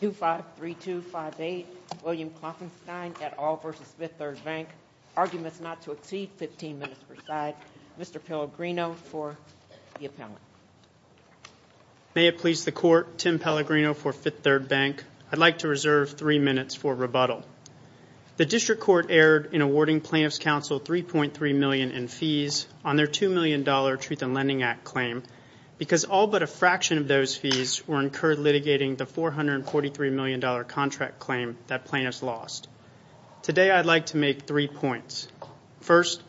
253258 William Klopfenstein at All v Fifth Third Bank. Arguments not to exceed 15 minutes per side. Mr. Pellegrino for the appellant. May it please the Court, Tim Pellegrino for Fifth Third Bank. I'd like to reserve three minutes for rebuttal. The District Court erred in awarding Plaintiff's Counsel $3.3 million in fees on their $2 million Truth in Lending Act claim because all but a fraction of those fees were incurred litigating the $443 million contract claim that plaintiffs lost. Today, I'd like to make three points. First,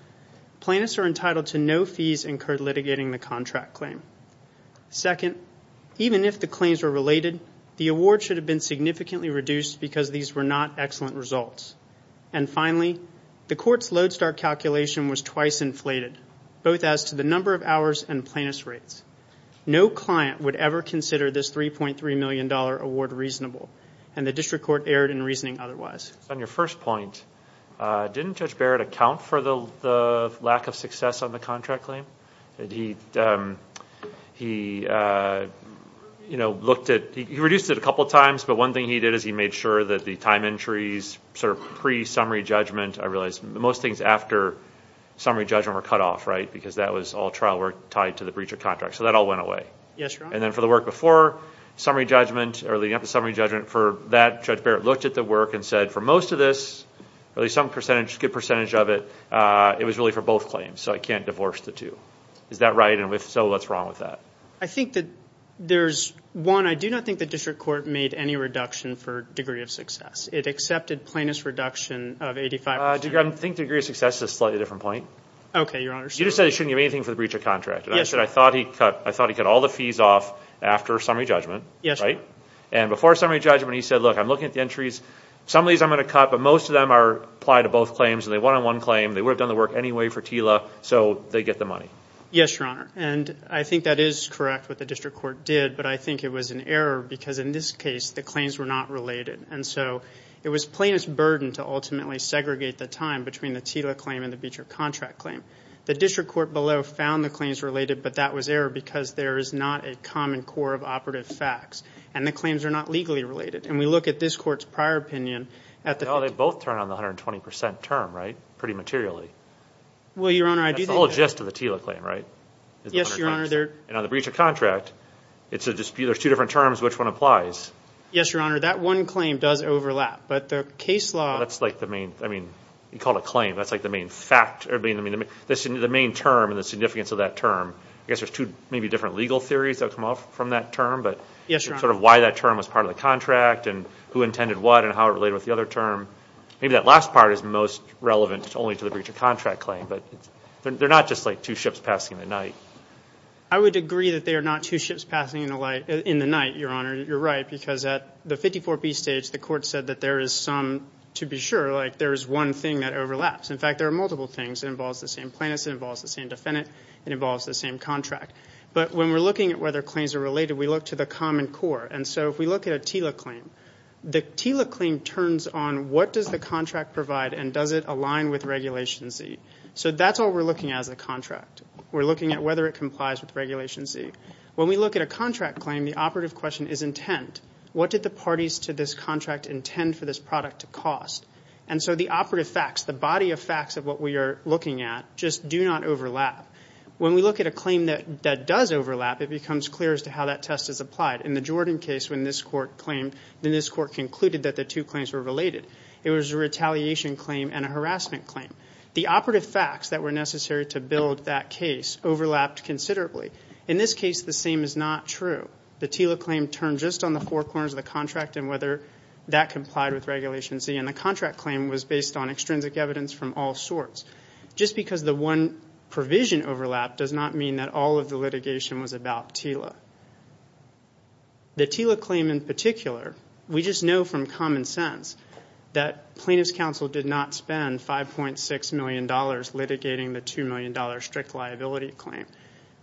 plaintiffs are entitled to no fees incurred litigating the contract claim. Second, even if the claims were related, the award should have been significantly reduced because these were not excellent results. And finally, the Court's Lodestar calculation was twice inflated, both as to the number of hours and plaintiff's rates. No client would ever consider this $3.3 million award reasonable, and the District Court erred in reasoning otherwise. On your first point, didn't Judge Barrett account for the lack of success on the contract claim? He reduced it a couple of times, but one thing he did is he made sure that the time entries sort of pre-summary judgment, I realize most things after summary judgment were cut off, right, because that was all trial work tied to the breach of contract. So that all went away. Yes, Your Honor. And then for the work before summary judgment or leading up to summary judgment for that, Judge Barrett looked at the work and said for most of this, at least some percentage, a good percentage of it, it was really for both claims, so I can't divorce the two. Is that right? And if so, what's wrong with that? I think that there's, one, I do not think the District Court made any reduction for degree of success. It accepted plaintiff's reduction of 85%. I think degree of success is a slightly different point. Okay, Your Honor. You just said it shouldn't give anything for the breach of contract. Yes, Your Honor. And I said I thought he cut all the fees off after summary judgment, right? Yes, Your Honor. And before summary judgment, he said, look, I'm looking at the entries. Some of these I'm going to cut, but most of them are applied to both claims, and they're a one-on-one claim. They would have done the work anyway for TILA, so they get the money. Yes, Your Honor. And I think that is correct, what the District Court did, but I think it was an error because in this case the claims were not related. And so it was plaintiff's burden to ultimately segregate the time between the TILA claim and the breach of contract claim. The District Court below found the claims related, but that was error because there is not a common core of operative facts, and the claims are not legally related. And we look at this Court's prior opinion. Well, they both turn on the 120 percent term, right, pretty materially. Well, Your Honor, I do think that. That's the whole gist of the TILA claim, right? Yes, Your Honor. And on the breach of contract, it's a dispute. There's two different terms. Which one applies? Yes, Your Honor. That one claim does overlap, but the case law. That's like the main, I mean, you called it a claim. That's like the main fact or the main term and the significance of that term. I guess there's two maybe different legal theories that come off from that term. Yes, Your Honor. Sort of why that term was part of the contract and who intended what and how it related with the other term. Maybe that last part is most relevant only to the breach of contract claim, but they're not just like two ships passing in the night. I would agree that they are not two ships passing in the night, Your Honor. You're right because at the 54B stage, the Court said that there is some, to be sure, like there is one thing that overlaps. In fact, there are multiple things. It involves the same plaintiffs. It involves the same defendant. It involves the same contract. But when we're looking at whether claims are related, we look to the common core. And so if we look at a TILA claim, the TILA claim turns on what does the contract provide and does it align with Regulation Z. So that's all we're looking at as a contract. We're looking at whether it complies with Regulation Z. When we look at a contract claim, the operative question is intent. What did the parties to this contract intend for this product to cost? And so the operative facts, the body of facts of what we are looking at, just do not overlap. When we look at a claim that does overlap, it becomes clear as to how that test is applied. In the Jordan case, when this Court claimed, then this Court concluded that the two claims were related. It was a retaliation claim and a harassment claim. The operative facts that were necessary to build that case overlapped considerably. In this case, the same is not true. The TILA claim turned just on the four corners of the contract and whether that complied with Regulation Z. And the contract claim was based on extrinsic evidence from all sorts. Just because the one provision overlapped does not mean that all of the litigation was about TILA. The TILA claim in particular, we just know from common sense that plaintiff's counsel did not spend $5.6 million litigating the $2 million strict liability claim.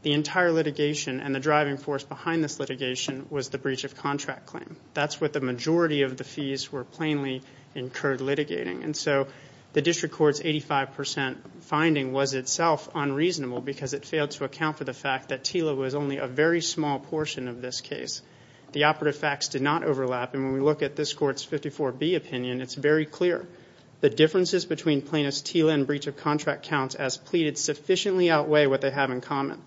The entire litigation and the driving force behind this litigation was the breach of contract claim. That's what the majority of the fees were plainly incurred litigating. And so the District Court's 85% finding was itself unreasonable because it failed to account for the fact that TILA was only a very small portion of this case. The operative facts did not overlap. And when we look at this Court's 54B opinion, it's very clear. The differences between plaintiff's TILA and breach of contract counts as pleaded sufficiently outweigh what they have in common.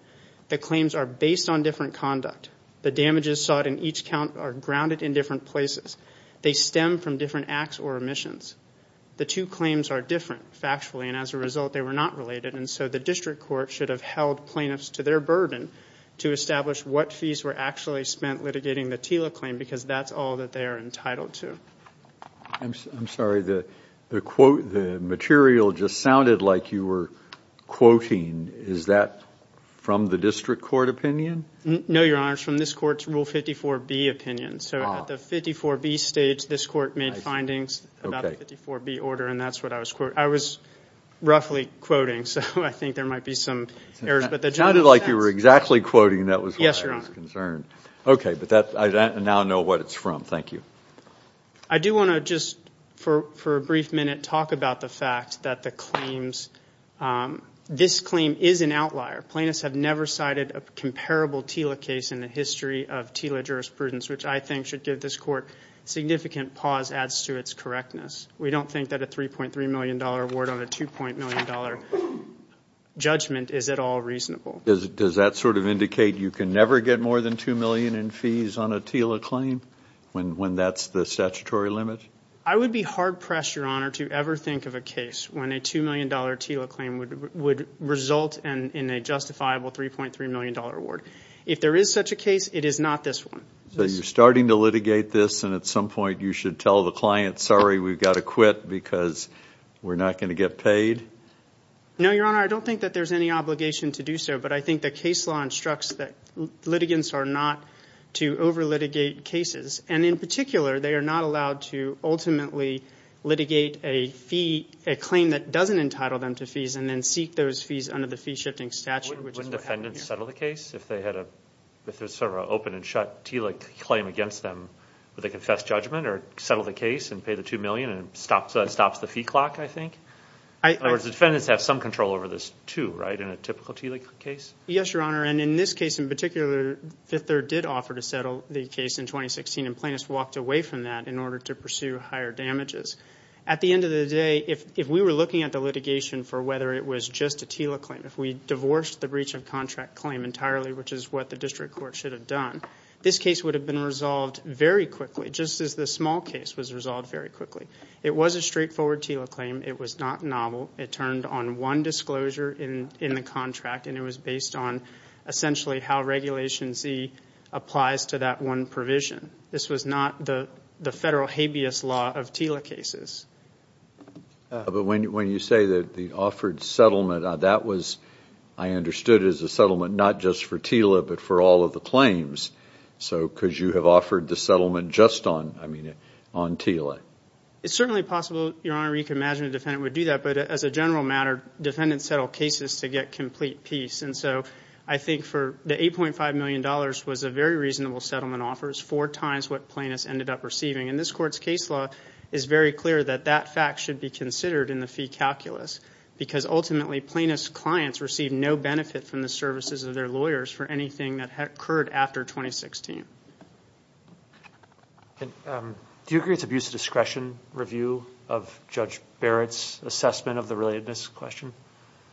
The claims are based on different conduct. The damages sought in each count are grounded in different places. They stem from different acts or omissions. The two claims are different factually, and as a result, they were not related. And so the District Court should have held plaintiffs to their burden to establish what fees were actually spent litigating the TILA claim because that's all that they are entitled to. I'm sorry. The quote, the material just sounded like you were quoting. Is that from the District Court opinion? No, Your Honor. It's from this Court's Rule 54B opinion. So at the 54B stage, this Court made findings about the 54B order, and that's what I was quoting. I was roughly quoting, so I think there might be some errors. It sounded like you were exactly quoting. That was what I was concerned. Okay, but I now know what it's from. Thank you. I do want to just, for a brief minute, talk about the fact that the claims this claim is an outlier. Plaintiffs have never cited a comparable TILA case in the history of TILA jurisprudence, which I think should give this Court significant pause as to its correctness. We don't think that a $3.3 million award on a $2.0 million judgment is at all reasonable. Does that sort of indicate you can never get more than $2 million in fees on a TILA claim when that's the statutory limit? I would be hard-pressed, Your Honor, to ever think of a case when a $2 million TILA claim would result in a justifiable $3.3 million award. If there is such a case, it is not this one. So you're starting to litigate this, and at some point you should tell the client, sorry, we've got to quit because we're not going to get paid? No, Your Honor, I don't think that there's any obligation to do so, but I think the case law instructs that litigants are not to over-litigate cases. And in particular, they are not allowed to ultimately litigate a fee, a claim that doesn't entitle them to fees, and then seek those fees under the fee-shifting statute. Wouldn't defendants settle the case if there's sort of an open-and-shut TILA claim against them where they confess judgment or settle the case and pay the $2 million and it stops the fee clock, I think? In other words, defendants have some control over this too, right, in a typical TILA case? Yes, Your Honor, and in this case in particular, Fifth Third did offer to settle the case in 2016, and plaintiffs walked away from that in order to pursue higher damages. At the end of the day, if we were looking at the litigation for whether it was just a TILA claim, if we divorced the breach of contract claim entirely, which is what the district court should have done, this case would have been resolved very quickly, just as the small case was resolved very quickly. It was a straightforward TILA claim. It was not novel. It turned on one disclosure in the contract, and it was based on essentially how Regulation Z applies to that one provision. This was not the federal habeas law of TILA cases. But when you say that the offered settlement, that was, I understood, as a settlement not just for TILA but for all of the claims, because you have offered the settlement just on TILA. It's certainly possible, Your Honor, you can imagine a defendant would do that, but as a general matter, defendants settle cases to get complete peace, and so I think the $8.5 million was a very reasonable settlement offer. It's four times what plaintiffs ended up receiving, and this Court's case law is very clear that that fact should be considered in the fee calculus because ultimately plaintiffs' clients receive no benefit from the services of their lawyers for anything that occurred after 2016. Do you agree it's abuse of discretion review of Judge Barrett's assessment of the relatedness question?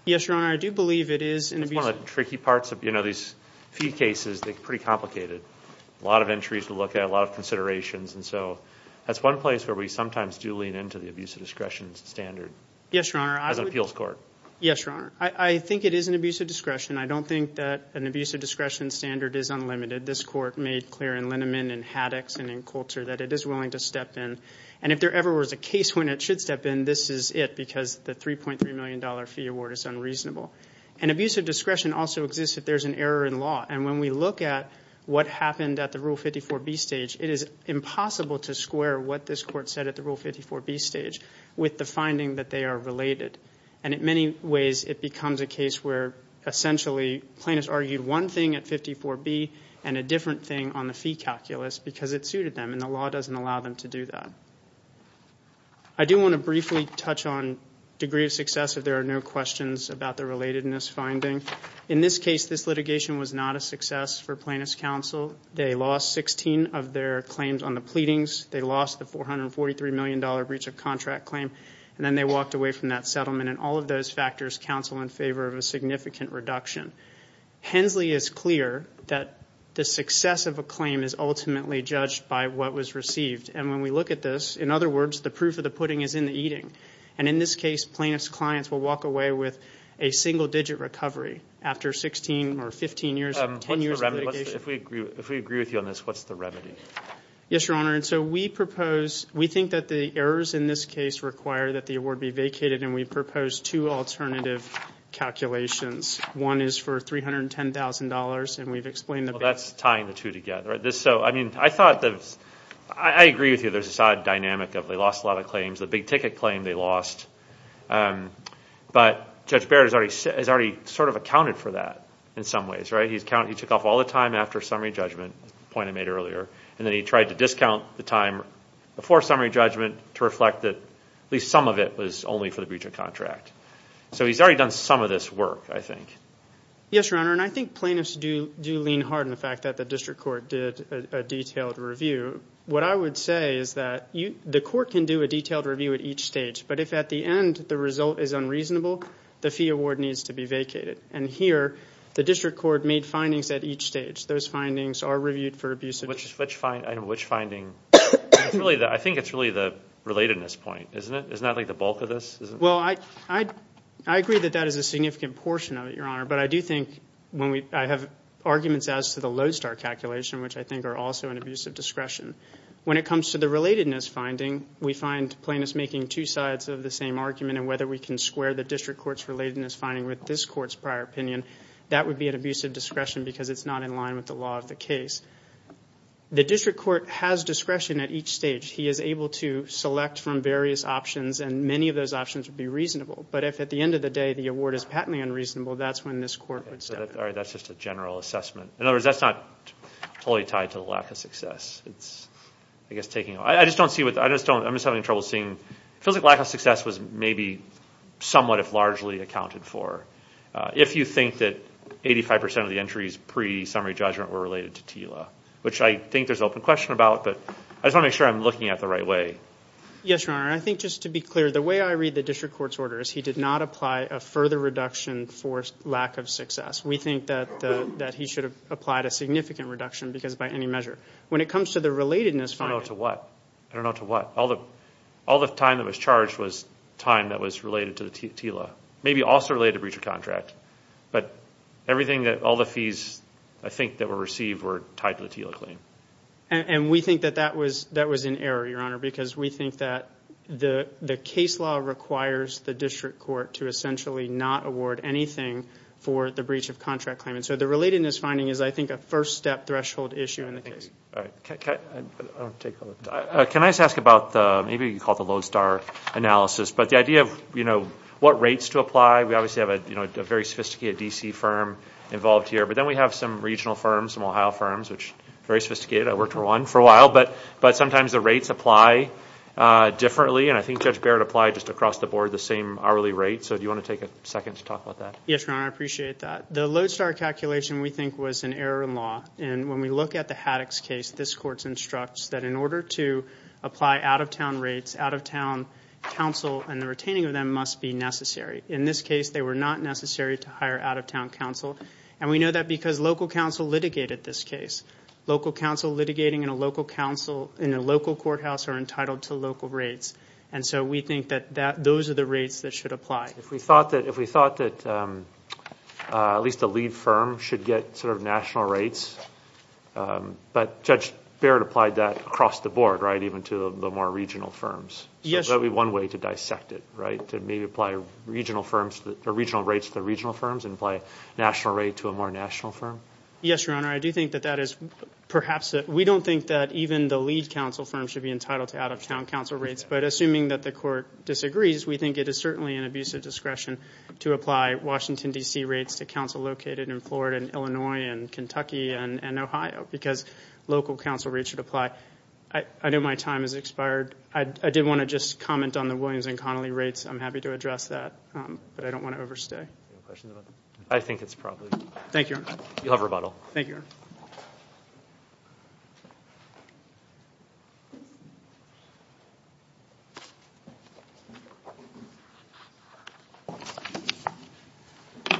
Yes, Your Honor, I do believe it is an abuse of discretion. It's one of the tricky parts of these fee cases. They're pretty complicated. A lot of entries to look at, a lot of considerations, and so that's one place where we sometimes do lean into the abuse of discretion standard. Yes, Your Honor. As an appeals court. Yes, Your Honor. I think it is an abuse of discretion. I don't think that an abuse of discretion standard is unlimited. This Court made clear in Lineman and Haddox and in Coulter that it is willing to step in, and if there ever was a case when it should step in, this is it because the $3.3 million fee award is unreasonable. An abuse of discretion also exists if there's an error in law, and when we look at what happened at the Rule 54B stage, it is impossible to square what this Court said at the Rule 54B stage with the finding that they are related, and in many ways it becomes a case where essentially plaintiffs argued one thing at 54B and a different thing on the fee calculus because it suited them, and the law doesn't allow them to do that. I do want to briefly touch on degree of success if there are no questions about the relatedness finding. In this case, this litigation was not a success for plaintiffs' counsel. They lost 16 of their claims on the pleadings. They lost the $443 million breach of contract claim, and then they walked away from that settlement, and all of those factors counsel in favor of a significant reduction. Hensley is clear that the success of a claim is ultimately judged by what was received, and when we look at this, in other words, the proof of the pudding is in the eating, and in this case, plaintiffs' clients will walk away with a single-digit recovery after 16 or 15 years, 10 years of litigation. If we agree with you on this, what's the remedy? Yes, Your Honor, and so we propose, we think that the errors in this case require that the award be vacated, and we propose two alternative calculations. One is for $310,000, and we've explained that. Well, that's tying the two together. So, I mean, I thought that I agree with you. There's this odd dynamic of they lost a lot of claims. The big ticket claim they lost. But Judge Baird has already sort of accounted for that in some ways, right? He took off all the time after summary judgment, the point I made earlier, and then he tried to discount the time before summary judgment to reflect that at least some of it was only for the breach of contract. So he's already done some of this work, I think. Yes, Your Honor, and I think plaintiffs do lean hard on the fact that the district court did a detailed review. What I would say is that the court can do a detailed review at each stage, but if at the end the result is unreasonable, the fee award needs to be vacated. And here, the district court made findings at each stage. Those findings are reviewed for abuse. Which finding? I think it's really the relatedness point, isn't it? Isn't that like the bulk of this? Well, I agree that that is a significant portion of it, Your Honor, but I do think I have arguments as to the Lodestar calculation, which I think are also an abuse of discretion. When it comes to the relatedness finding, we find plaintiffs making two sides of the same argument, and whether we can square the district court's relatedness finding with this court's prior opinion, that would be an abuse of discretion because it's not in line with the law of the case. The district court has discretion at each stage. He is able to select from various options, and many of those options would be reasonable. But if at the end of the day the award is patently unreasonable, that's when this court would step in. All right, that's just a general assessment. In other words, that's not totally tied to the lack of success. It's, I guess, taking a look. I just don't see what the – I'm just having trouble seeing – it feels like lack of success was maybe somewhat, if largely, accounted for. If you think that 85% of the entries pre-summary judgment were related to TILA, which I think there's an open question about, but I just want to make sure I'm looking at it the right way. Yes, Your Honor. I think just to be clear, the way I read the district court's orders, he did not apply a further reduction for lack of success. We think that he should have applied a significant reduction because by any measure. When it comes to the relatedness finding – I don't know to what. I don't know to what. All the time that was charged was time that was related to the TILA, maybe also related to breach of contract. But everything that all the fees, I think, that were received were tied to the TILA claim. And we think that that was in error, Your Honor, because we think that the case law requires the district court to essentially not award anything for the breach of contract claim. And so the relatedness finding is, I think, a first-step threshold issue in the case. All right. I'll take all of that. Can I just ask about the – maybe you can call it the Lodestar analysis, but the idea of what rates to apply. We obviously have a very sophisticated D.C. firm involved here, but then we have some regional firms, some Ohio firms, which are very sophisticated. I worked for one for a while, but sometimes the rates apply differently, and I think Judge Barrett applied just across the board the same hourly rate. So do you want to take a second to talk about that? Yes, Your Honor, I appreciate that. The Lodestar calculation, we think, was an error in law. And when we look at the Haddox case, this court instructs that in order to apply out-of-town rates, out-of-town counsel, and the retaining of them must be necessary. In this case, they were not necessary to hire out-of-town counsel. And we know that because local counsel litigated this case. Local counsel litigating in a local courthouse are entitled to local rates. And so we think that those are the rates that should apply. If we thought that at least a lead firm should get sort of national rates, but Judge Barrett applied that across the board, right, even to the more regional firms. Yes. So that would be one way to dissect it, right, to maybe apply regional rates to regional firms and apply a national rate to a more national firm? Yes, Your Honor. I do think that that is perhaps that we don't think that even the lead counsel firm should be entitled to out-of-town counsel rates. But assuming that the court disagrees, we think it is certainly an abusive discretion to apply Washington, D.C. rates to counsel located in Florida and Illinois and Kentucky and Ohio because local counsel rates should apply. I know my time has expired. I did want to just comment on the Williams and Connolly rates. I'm happy to address that, but I don't want to overstay. Any questions about that? I think it's probably. Thank you, Your Honor. You'll have rebuttal. Thank you, Your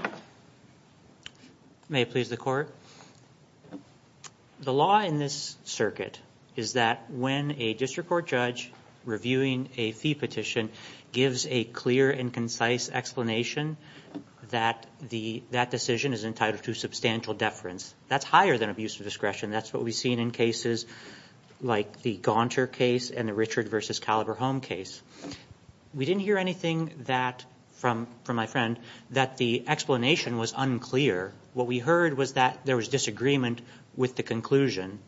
Honor. May it please the Court. The law in this circuit is that when a district court judge reviewing a fee petition gives a clear and concise explanation that that decision is entitled to substantial deference. That's higher than abusive discretion. That's what we've seen in cases like the Gaunter case and the Richard v. Caliber Home case. We didn't hear anything from my friend that the explanation was unclear. What we heard was that there was disagreement with the conclusion.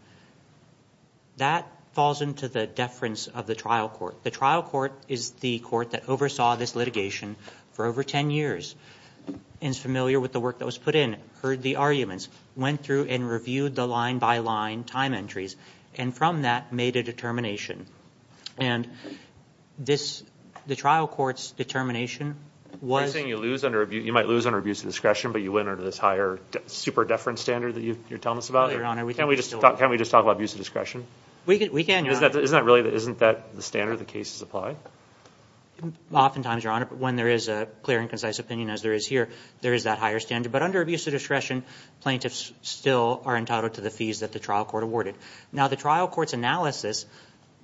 That falls into the deference of the trial court. The trial court is the court that oversaw this litigation for over 10 years and is familiar with the work that was put in, heard the arguments, went through and reviewed the line-by-line time entries, and from that made a determination. And the trial court's determination was... Are you saying you might lose under abuse of discretion, but you win under this higher super-deference standard that you're telling us about? No, Your Honor. Can't we just talk about abuse of discretion? We can, Your Honor. Isn't that the standard that cases apply? Oftentimes, Your Honor, when there is a clear and concise opinion, as there is here, there is that higher standard. But under abuse of discretion, plaintiffs still are entitled to the fees that the trial court awarded. Now, the trial court's analysis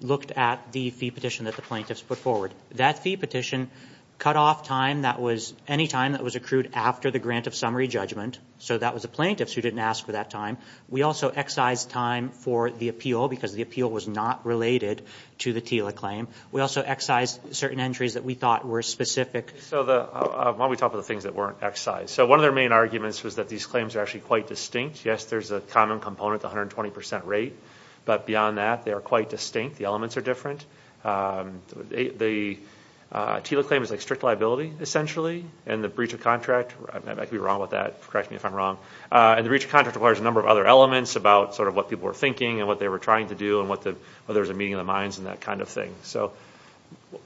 looked at the fee petition that the plaintiffs put forward. That fee petition cut off time that was any time that was accrued after the grant of summary judgment. So that was the plaintiffs who didn't ask for that time. We also excised time for the appeal because the appeal was not related to the TILA claim. We also excised certain entries that we thought were specific. Why don't we talk about the things that weren't excised? So one of their main arguments was that these claims are actually quite distinct. Yes, there's a common component, the 120 percent rate. But beyond that, they are quite distinct. The elements are different. The TILA claim is like strict liability, essentially. And the breach of contract... I could be wrong with that. Correct me if I'm wrong. And the breach of contract requires a number of other elements about sort of what people were thinking and what they were trying to do and whether there was a meeting of the minds and that kind of thing. So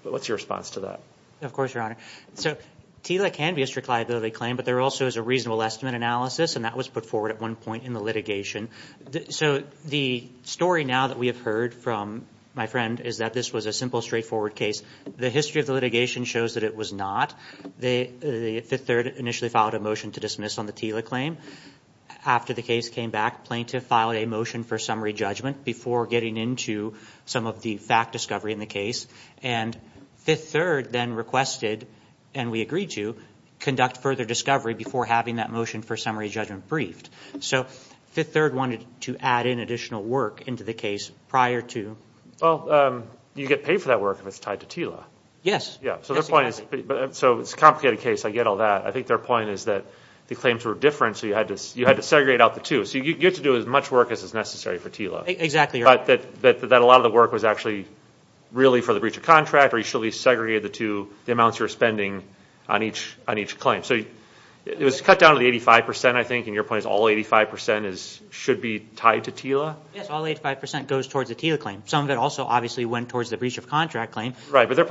what's your response to that? Of course, Your Honor. So TILA can be a strict liability claim, but there also is a reasonable estimate analysis, and that was put forward at one point in the litigation. So the story now that we have heard from my friend is that this was a simple, straightforward case. The history of the litigation shows that it was not. The Fifth Third initially filed a motion to dismiss on the TILA claim. After the case came back, plaintiff filed a motion for summary judgment before getting into some of the fact discovery in the case. And Fifth Third then requested, and we agreed to, conduct further discovery before having that motion for summary judgment briefed. So Fifth Third wanted to add in additional work into the case prior to... Well, you get paid for that work if it's tied to TILA. Yes. Yes, exactly. So it's a complicated case. I get all that. I think their point is that the claims were different, so you had to segregate out the two. So you get to do as much work as is necessary for TILA. Exactly, Your Honor. But that a lot of the work was actually really for the breach of contract, or you should at least segregate the two, the amounts you were spending on each claim. So it was cut down to the 85 percent, I think, and your point is all 85 percent should be tied to TILA? Yes, all 85 percent goes towards the TILA claim. Some of it also obviously went towards the breach of contract claim. Right, but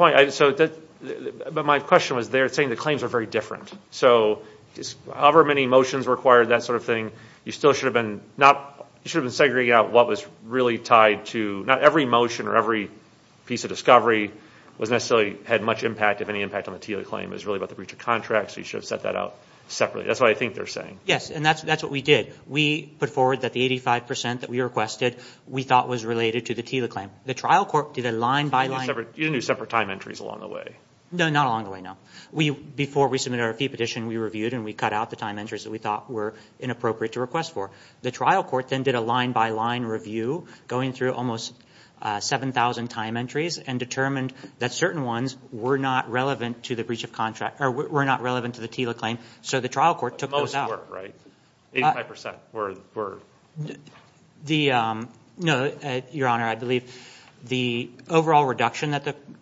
my question was they're saying the claims are very different. So however many motions were acquired, that sort of thing, you still should have been segregating out what was really tied to... Not every motion or every piece of discovery had much impact, if any impact, on the TILA claim. It was really about the breach of contract, so you should have set that out separately. That's what I think they're saying. Yes, and that's what we did. We put forward that the 85 percent that we requested we thought was related to the TILA claim. The trial court did a line-by-line... Did you do separate time entries along the way? No, not along the way, no. Before we submitted our fee petition, we reviewed and we cut out the time entries that we thought were inappropriate to request for. The trial court then did a line-by-line review going through almost 7,000 time entries and determined that certain ones were not relevant to the TILA claim, so the trial court took those out. But most were, right? 85 percent were... The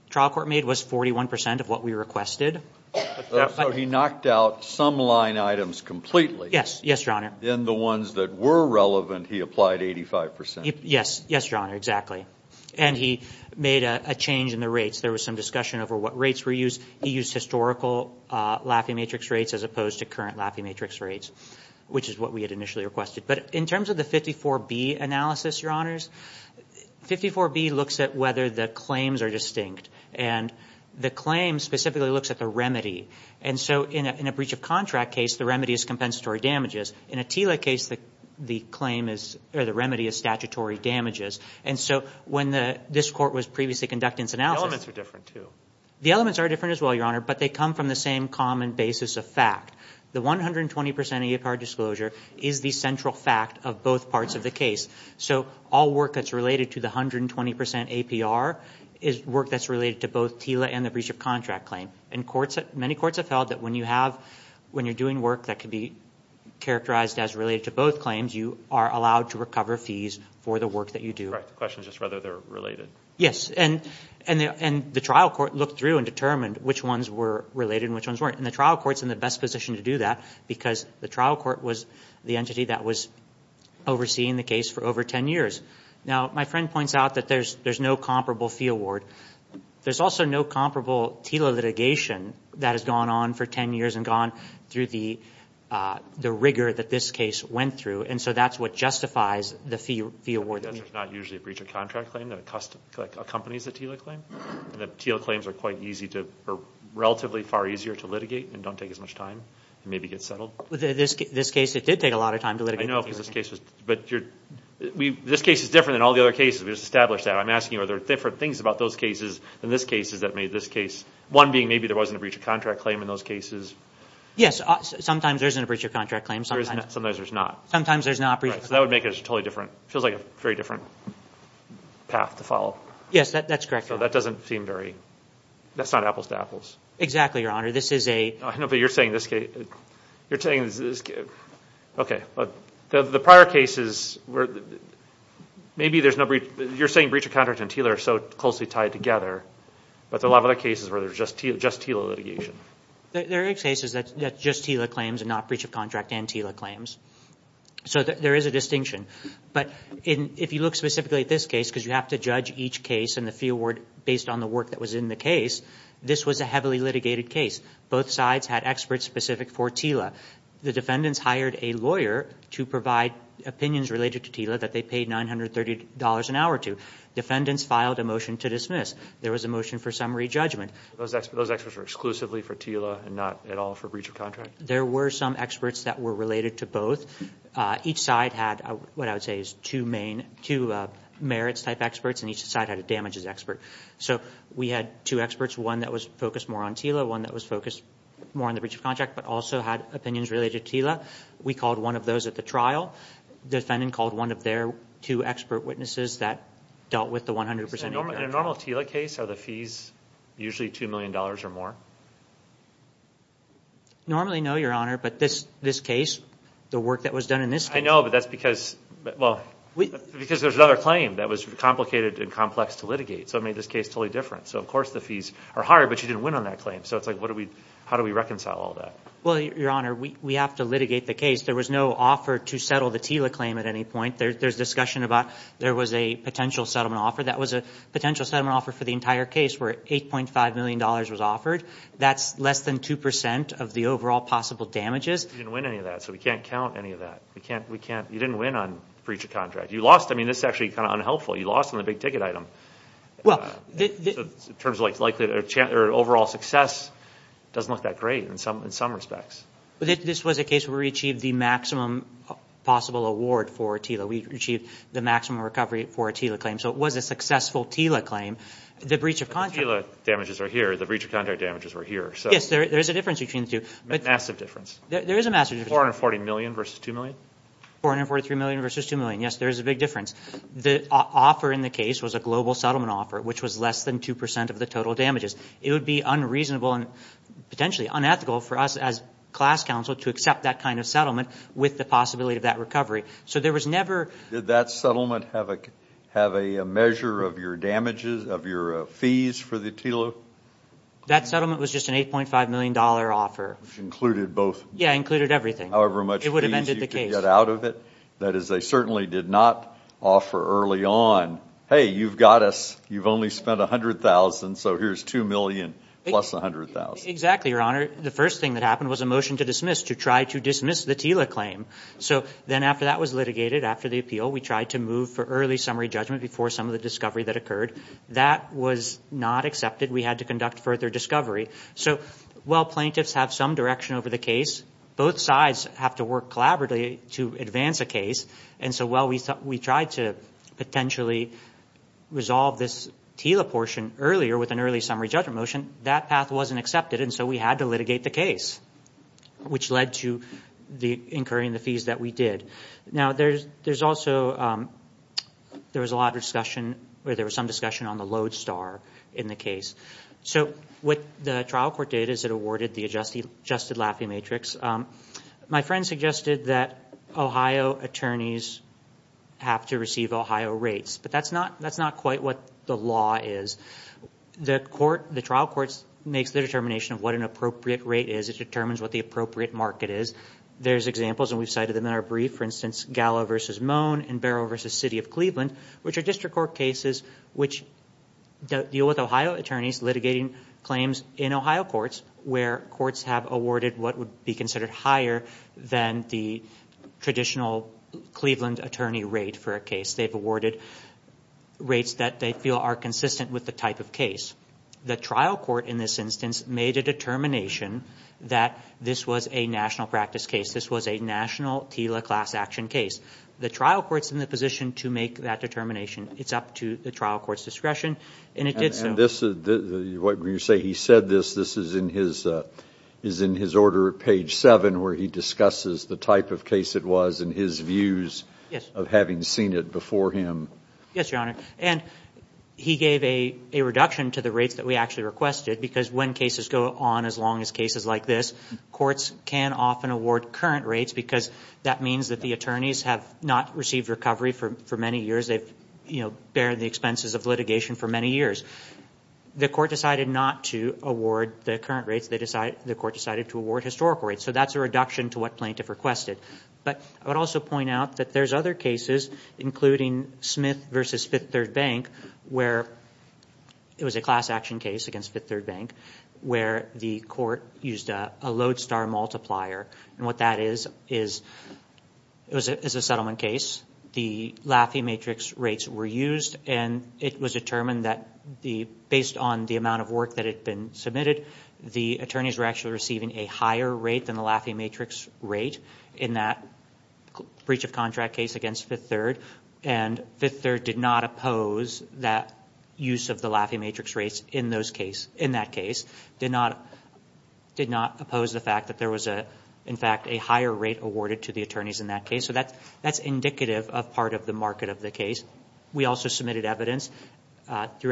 trial court made was 41 percent of what we requested. So he knocked out some line items completely. Yes, yes, Your Honor. Then the ones that were relevant, he applied 85 percent. Yes, yes, Your Honor, exactly. And he made a change in the rates. There was some discussion over what rates were used. He used historical Lafayette matrix rates as opposed to current Lafayette matrix rates, which is what we had initially requested. But in terms of the 54B analysis, Your Honors, 54B looks at whether the claims are distinct. And the claim specifically looks at the remedy. And so in a breach of contract case, the remedy is compensatory damages. In a TILA case, the claim is or the remedy is statutory damages. And so when this court was previously conducting its analysis... The elements are different, too. The elements are different as well, Your Honor, but they come from the same common basis of fact. The 120 percent APR disclosure is the central fact of both parts of the case. So all work that's related to the 120 percent APR is work that's related to both TILA and the breach of contract claim. And courts... Many courts have held that when you have... When you're doing work that could be characterized as related to both claims, you are allowed to recover fees for the work that you do. The question is just whether they're related. Yes, and the trial court looked through and determined which ones were related and which ones weren't. And the trial court's in the best position to do that. Because the trial court was the entity that was overseeing the case for over 10 years. Now, my friend points out that there's no comparable fee award. There's also no comparable TILA litigation that has gone on for 10 years... And gone through the rigor that this case went through. And so that's what justifies the fee award. Yes, there's not usually a breach of contract claim that accompanies a TILA claim. The TILA claims are quite easy to... Relatively far easier to litigate and don't take as much time. And maybe get settled. This case, it did take a lot of time to litigate. I know because this case was... But you're... This case is different than all the other cases. We just established that. I'm asking you, are there different things about those cases than this case that made this case... One being maybe there wasn't a breach of contract claim in those cases. Yes, sometimes there isn't a breach of contract claim. Sometimes there's not. Sometimes there's not. Right, so that would make it a totally different... It feels like a very different path to follow. Yes, that's correct. So that doesn't seem very... That's not apples to apples. Exactly, Your Honor. This is a... No, but you're saying this... You're saying this... Okay, but the prior cases were... Maybe there's no... You're saying breach of contract and TILA are so closely tied together. But there are a lot of other cases where there's just TILA litigation. There are cases that just TILA claims and not breach of contract and TILA claims. So there is a distinction. But if you look specifically at this case... Based on the work that was in the case, this was a heavily litigated case. Both sides had experts specific for TILA. The defendants hired a lawyer to provide opinions related to TILA that they paid $930 an hour to. Defendants filed a motion to dismiss. There was a motion for summary judgment. Those experts were exclusively for TILA and not at all for breach of contract? There were some experts that were related to both. Each side had what I would say is two merits type experts. And each side had a damages expert. So we had two experts. One that was focused more on TILA. One that was focused more on the breach of contract. But also had opinions related to TILA. We called one of those at the trial. Defendant called one of their two expert witnesses that dealt with the 100% impact. In a normal TILA case, are the fees usually $2 million or more? Normally, no, Your Honor. But this case, the work that was done in this case. I know, but that's because there's another claim that was complicated and complex to litigate. So it made this case totally different. So, of course, the fees are higher, but you didn't win on that claim. So it's like how do we reconcile all that? Well, Your Honor, we have to litigate the case. There was no offer to settle the TILA claim at any point. There's discussion about there was a potential settlement offer. That was a potential settlement offer for the entire case where $8.5 million was offered. That's less than 2% of the overall possible damages. You didn't win any of that. So we can't count any of that. You didn't win on breach of contract. You lost. I mean, this is actually kind of unhelpful. You lost on the big-ticket item. In terms of overall success, it doesn't look that great in some respects. This was a case where we achieved the maximum possible award for a TILA. We achieved the maximum recovery for a TILA claim. So it was a successful TILA claim. The breach of contract. Yes, there is a difference between the two. Massive difference. There is a massive difference. $440 million versus $2 million? $443 million versus $2 million. Yes, there is a big difference. The offer in the case was a global settlement offer, which was less than 2% of the total damages. It would be unreasonable and potentially unethical for us as class counsel to accept that kind of settlement with the possibility of that recovery. So there was never – Did that settlement have a measure of your damages, of your fees for the TILA? That settlement was just an $8.5 million offer. Which included both? Yes, it included everything. However much fees you could get out of it? It would have ended the case. That is, they certainly did not offer early on, hey, you've got us. You've only spent $100,000, so here's $2 million plus $100,000. Exactly, Your Honor. The first thing that happened was a motion to dismiss, to try to dismiss the TILA claim. So then after that was litigated, after the appeal, we tried to move for early summary judgment before some of the discovery that occurred. That was not accepted. We had to conduct further discovery. So while plaintiffs have some direction over the case, both sides have to work collaboratively to advance a case. And so while we tried to potentially resolve this TILA portion earlier with an early summary judgment motion, that path wasn't accepted. And so we had to litigate the case, which led to incurring the fees that we did. Now, there's also a lot of discussion, or there was some discussion on the LODESTAR in the case. So with the trial court data that awarded the adjusted Laffey matrix, my friend suggested that Ohio attorneys have to receive Ohio rates. But that's not quite what the law is. The trial court makes the determination of what an appropriate rate is. It determines what the appropriate market is. There's examples, and we've cited them in our brief. For instance, Gallo v. Moan and Barrow v. City of Cleveland, which are district court cases which deal with Ohio attorneys litigating claims in Ohio courts, where courts have awarded what would be considered higher than the traditional Cleveland attorney rate for a case. They've awarded rates that they feel are consistent with the type of case. The trial court in this instance made a determination that this was a national practice case. This was a national TILA class action case. The trial court's in the position to make that determination. It's up to the trial court's discretion, and it did so. And this is what you say he said this. This is in his order at page 7 where he discusses the type of case it was and his views of having seen it before him. Yes, Your Honor. And he gave a reduction to the rates that we actually requested because when cases go on as long as cases like this, courts can often award current rates because that means that the attorneys have not received recovery for many years. They've, you know, bared the expenses of litigation for many years. The court decided not to award the current rates. The court decided to award historical rates. So that's a reduction to what plaintiff requested. But I would also point out that there's other cases, including Smith v. Fifth Third Bank, where it was a class action case against Fifth Third Bank where the court used a lodestar multiplier. And what that is is it was a settlement case. The Laffey matrix rates were used, and it was determined that based on the amount of work that had been submitted, the attorneys were actually receiving a higher rate than the Laffey matrix rate in that breach of contract case against Fifth Third. And Fifth Third did not oppose that use of the Laffey matrix rates in that case, did not oppose the fact that there was, in fact, a higher rate awarded to the attorneys in that case. So that's indicative of part of the market of the case. We also submitted evidence through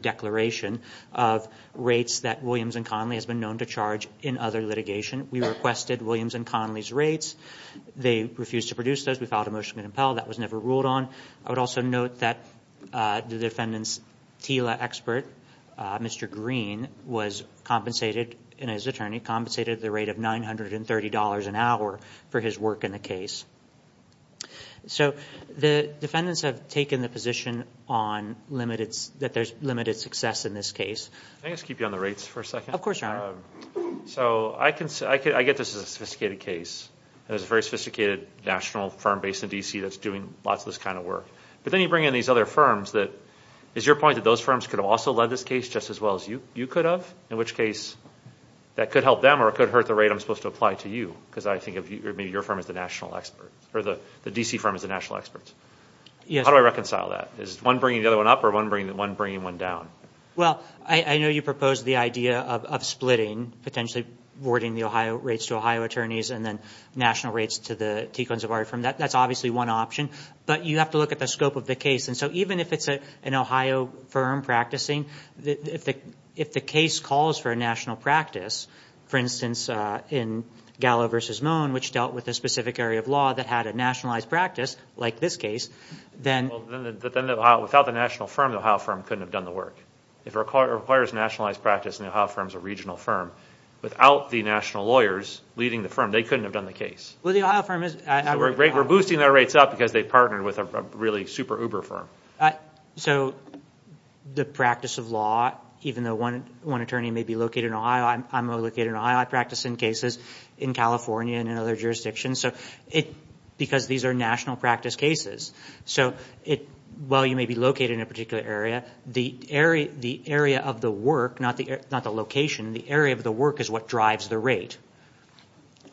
declaration of rates that Williams and Connolly has been known to charge in other litigation. We requested Williams and Connolly's rates. They refused to produce those. We filed a motion to compel. That was never ruled on. I would also note that the defendant's TILA expert, Mr. Green, was compensated, and his attorney compensated the rate of $930 an hour for his work in the case. So the defendants have taken the position that there's limited success in this case. Can I just keep you on the rates for a second? Of course, Your Honor. So I get this as a sophisticated case. There's a very sophisticated national firm based in D.C. that's doing lots of this kind of work. But then you bring in these other firms. Is your point that those firms could have also led this case just as well as you could have, in which case that could help them or it could hurt the rate I'm supposed to apply to you, because I think of maybe your firm as the national expert, or the D.C. firm as the national expert? Yes. How do I reconcile that? Is one bringing the other one up or one bringing one down? Well, I know you proposed the idea of splitting, potentially awarding the Ohio rates to Ohio attorneys and then national rates to the Tequan Zabari firm. That's obviously one option. But you have to look at the scope of the case. And so even if it's an Ohio firm practicing, if the case calls for a national practice, for instance, in Gallo v. Moen, which dealt with a specific area of law that had a nationalized practice, like this case, then the Ohio firm couldn't have done the work. If it requires nationalized practice and the Ohio firm is a regional firm, without the national lawyers leading the firm, they couldn't have done the case. Well, the Ohio firm is. We're boosting their rates up because they partnered with a really super uber firm. So the practice of law, even though one attorney may be located in Ohio, I'm located in Ohio, I practice in cases in California and in other jurisdictions, because these are national practice cases. So while you may be located in a particular area, the area of the work, not the location, the area of the work is what drives the rate.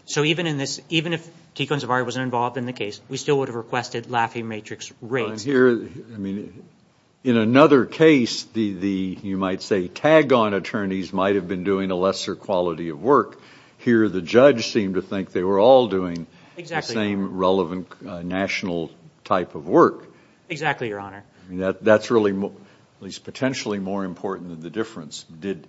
So even if Tequan Zabari wasn't involved in the case, we still would have requested Laffey Matrix rates. In another case, you might say tag-on attorneys might have been doing a lesser quality of work. Here the judge seemed to think they were all doing the same relevant national type of work. Exactly, Your Honor. That's really, at least potentially, more important than the difference. Did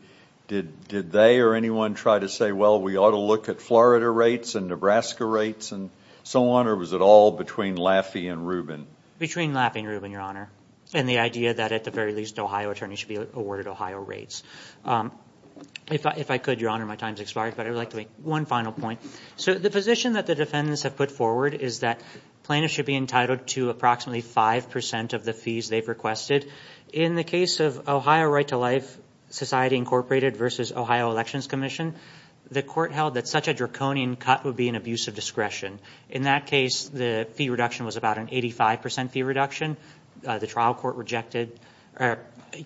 they or anyone try to say, well, we ought to look at Florida rates and Nebraska rates and so on, or was it all between Laffey and Rubin? Between Laffey and Rubin, Your Honor, and the idea that at the very least, Ohio attorneys should be awarded Ohio rates. If I could, Your Honor, my time has expired, but I would like to make one final point. So the position that the defendants have put forward is that plaintiffs should be entitled to approximately 5% of the fees they've requested. In the case of Ohio Right to Life Society, Incorporated, versus Ohio Elections Commission, the court held that such a draconian cut would be an abuse of discretion. In that case, the fee reduction was about an 85% fee reduction. The trial court rejected or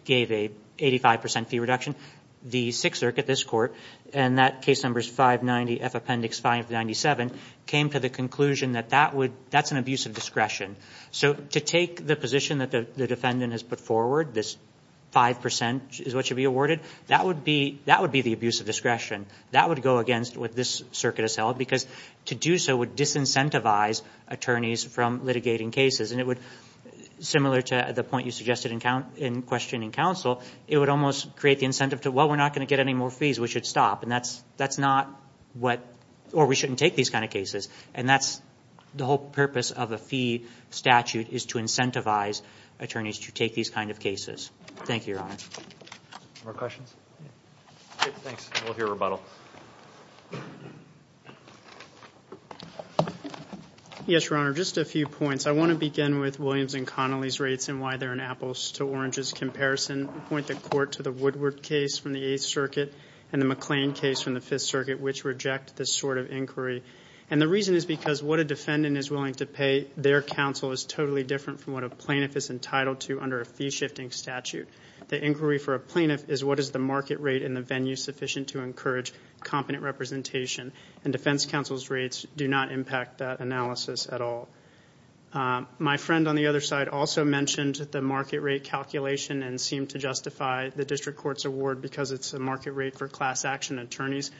gave a 85% fee reduction. The Sixth Circuit, this court, and that case number is 590F Appendix 597, came to the conclusion that that's an abuse of discretion. So to take the position that the defendant has put forward, this 5% is what should be awarded, that would be the abuse of discretion. That would go against what this circuit has held because to do so would disincentivize attorneys from litigating cases, and it would, similar to the point you suggested in questioning counsel, it would almost create the incentive to, well, we're not going to get any more fees. We should stop, and that's not what or we shouldn't take these kind of cases, and that's the whole purpose of a fee statute is to incentivize attorneys to take these kind of cases. Thank you, Your Honor. More questions? Thanks. We'll hear rebuttal. Yes, Your Honor, just a few points. I want to begin with Williams and Connolly's rates and why they're an apples-to-oranges comparison. I point the court to the Woodward case from the Eighth Circuit and the McLean case from the Fifth Circuit, which reject this sort of inquiry, and the reason is because what a defendant is willing to pay their counsel is totally different from what a plaintiff is entitled to under a fee-shifting statute. The inquiry for a plaintiff is what is the market rate in the venue sufficient to encourage competent representation, and defense counsel's rates do not impact that analysis at all. My friend on the other side also mentioned the market rate calculation and seemed to justify the district court's award because it's a market rate for class-action attorneys.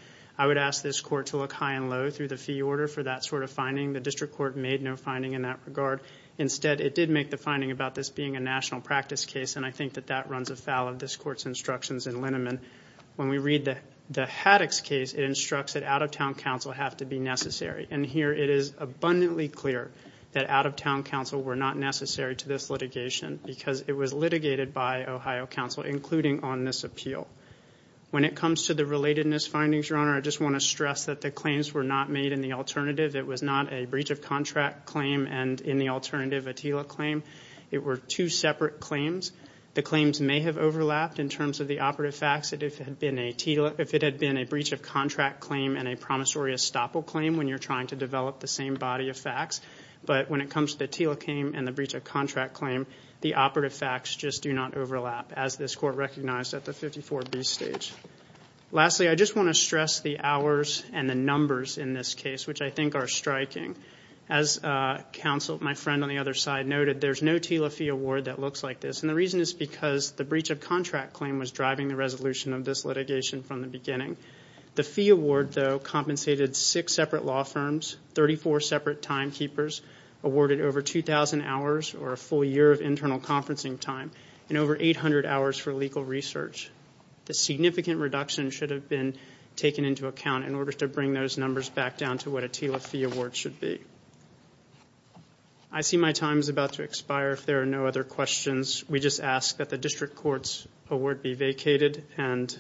I would ask this court to look high and low through the fee order for that sort of finding. The district court made no finding in that regard. Instead, it did make the finding about this being a national practice case, and I think that that runs afoul of this court's instructions in Lineman. When we read the Haddox case, it instructs that out-of-town counsel have to be necessary, and here it is abundantly clear that out-of-town counsel were not necessary to this litigation because it was litigated by Ohio counsel, including on this appeal. When it comes to the relatedness findings, Your Honor, I just want to stress that the claims were not made in the alternative. It was not a breach-of-contract claim and in the alternative a TILA claim. It were two separate claims. The claims may have overlapped in terms of the operative facts. If it had been a breach-of-contract claim and a promissory estoppel claim when you're trying to develop the same body of facts, but when it comes to the TILA claim and the breach-of-contract claim, the operative facts just do not overlap as this court recognized at the 54B stage. Lastly, I just want to stress the hours and the numbers in this case, which I think are striking. As counsel, my friend on the other side, noted, there's no TILA fee award that looks like this, and the reason is because the breach-of-contract claim was driving the resolution of this litigation from the beginning. The fee award, though, compensated six separate law firms, 34 separate timekeepers, awarded over 2,000 hours or a full year of internal conferencing time, and over 800 hours for legal research. The significant reduction should have been taken into account in order to bring those numbers back down to what a TILA fee award should be. I see my time is about to expire. If there are no other questions, we just ask that the district court's award be vacated and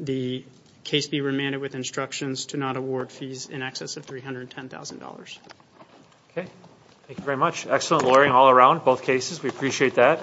the case be remanded with instructions to not award fees in excess of $310,000. Okay. Thank you very much. Excellent lawyering all around, both cases. We appreciate that.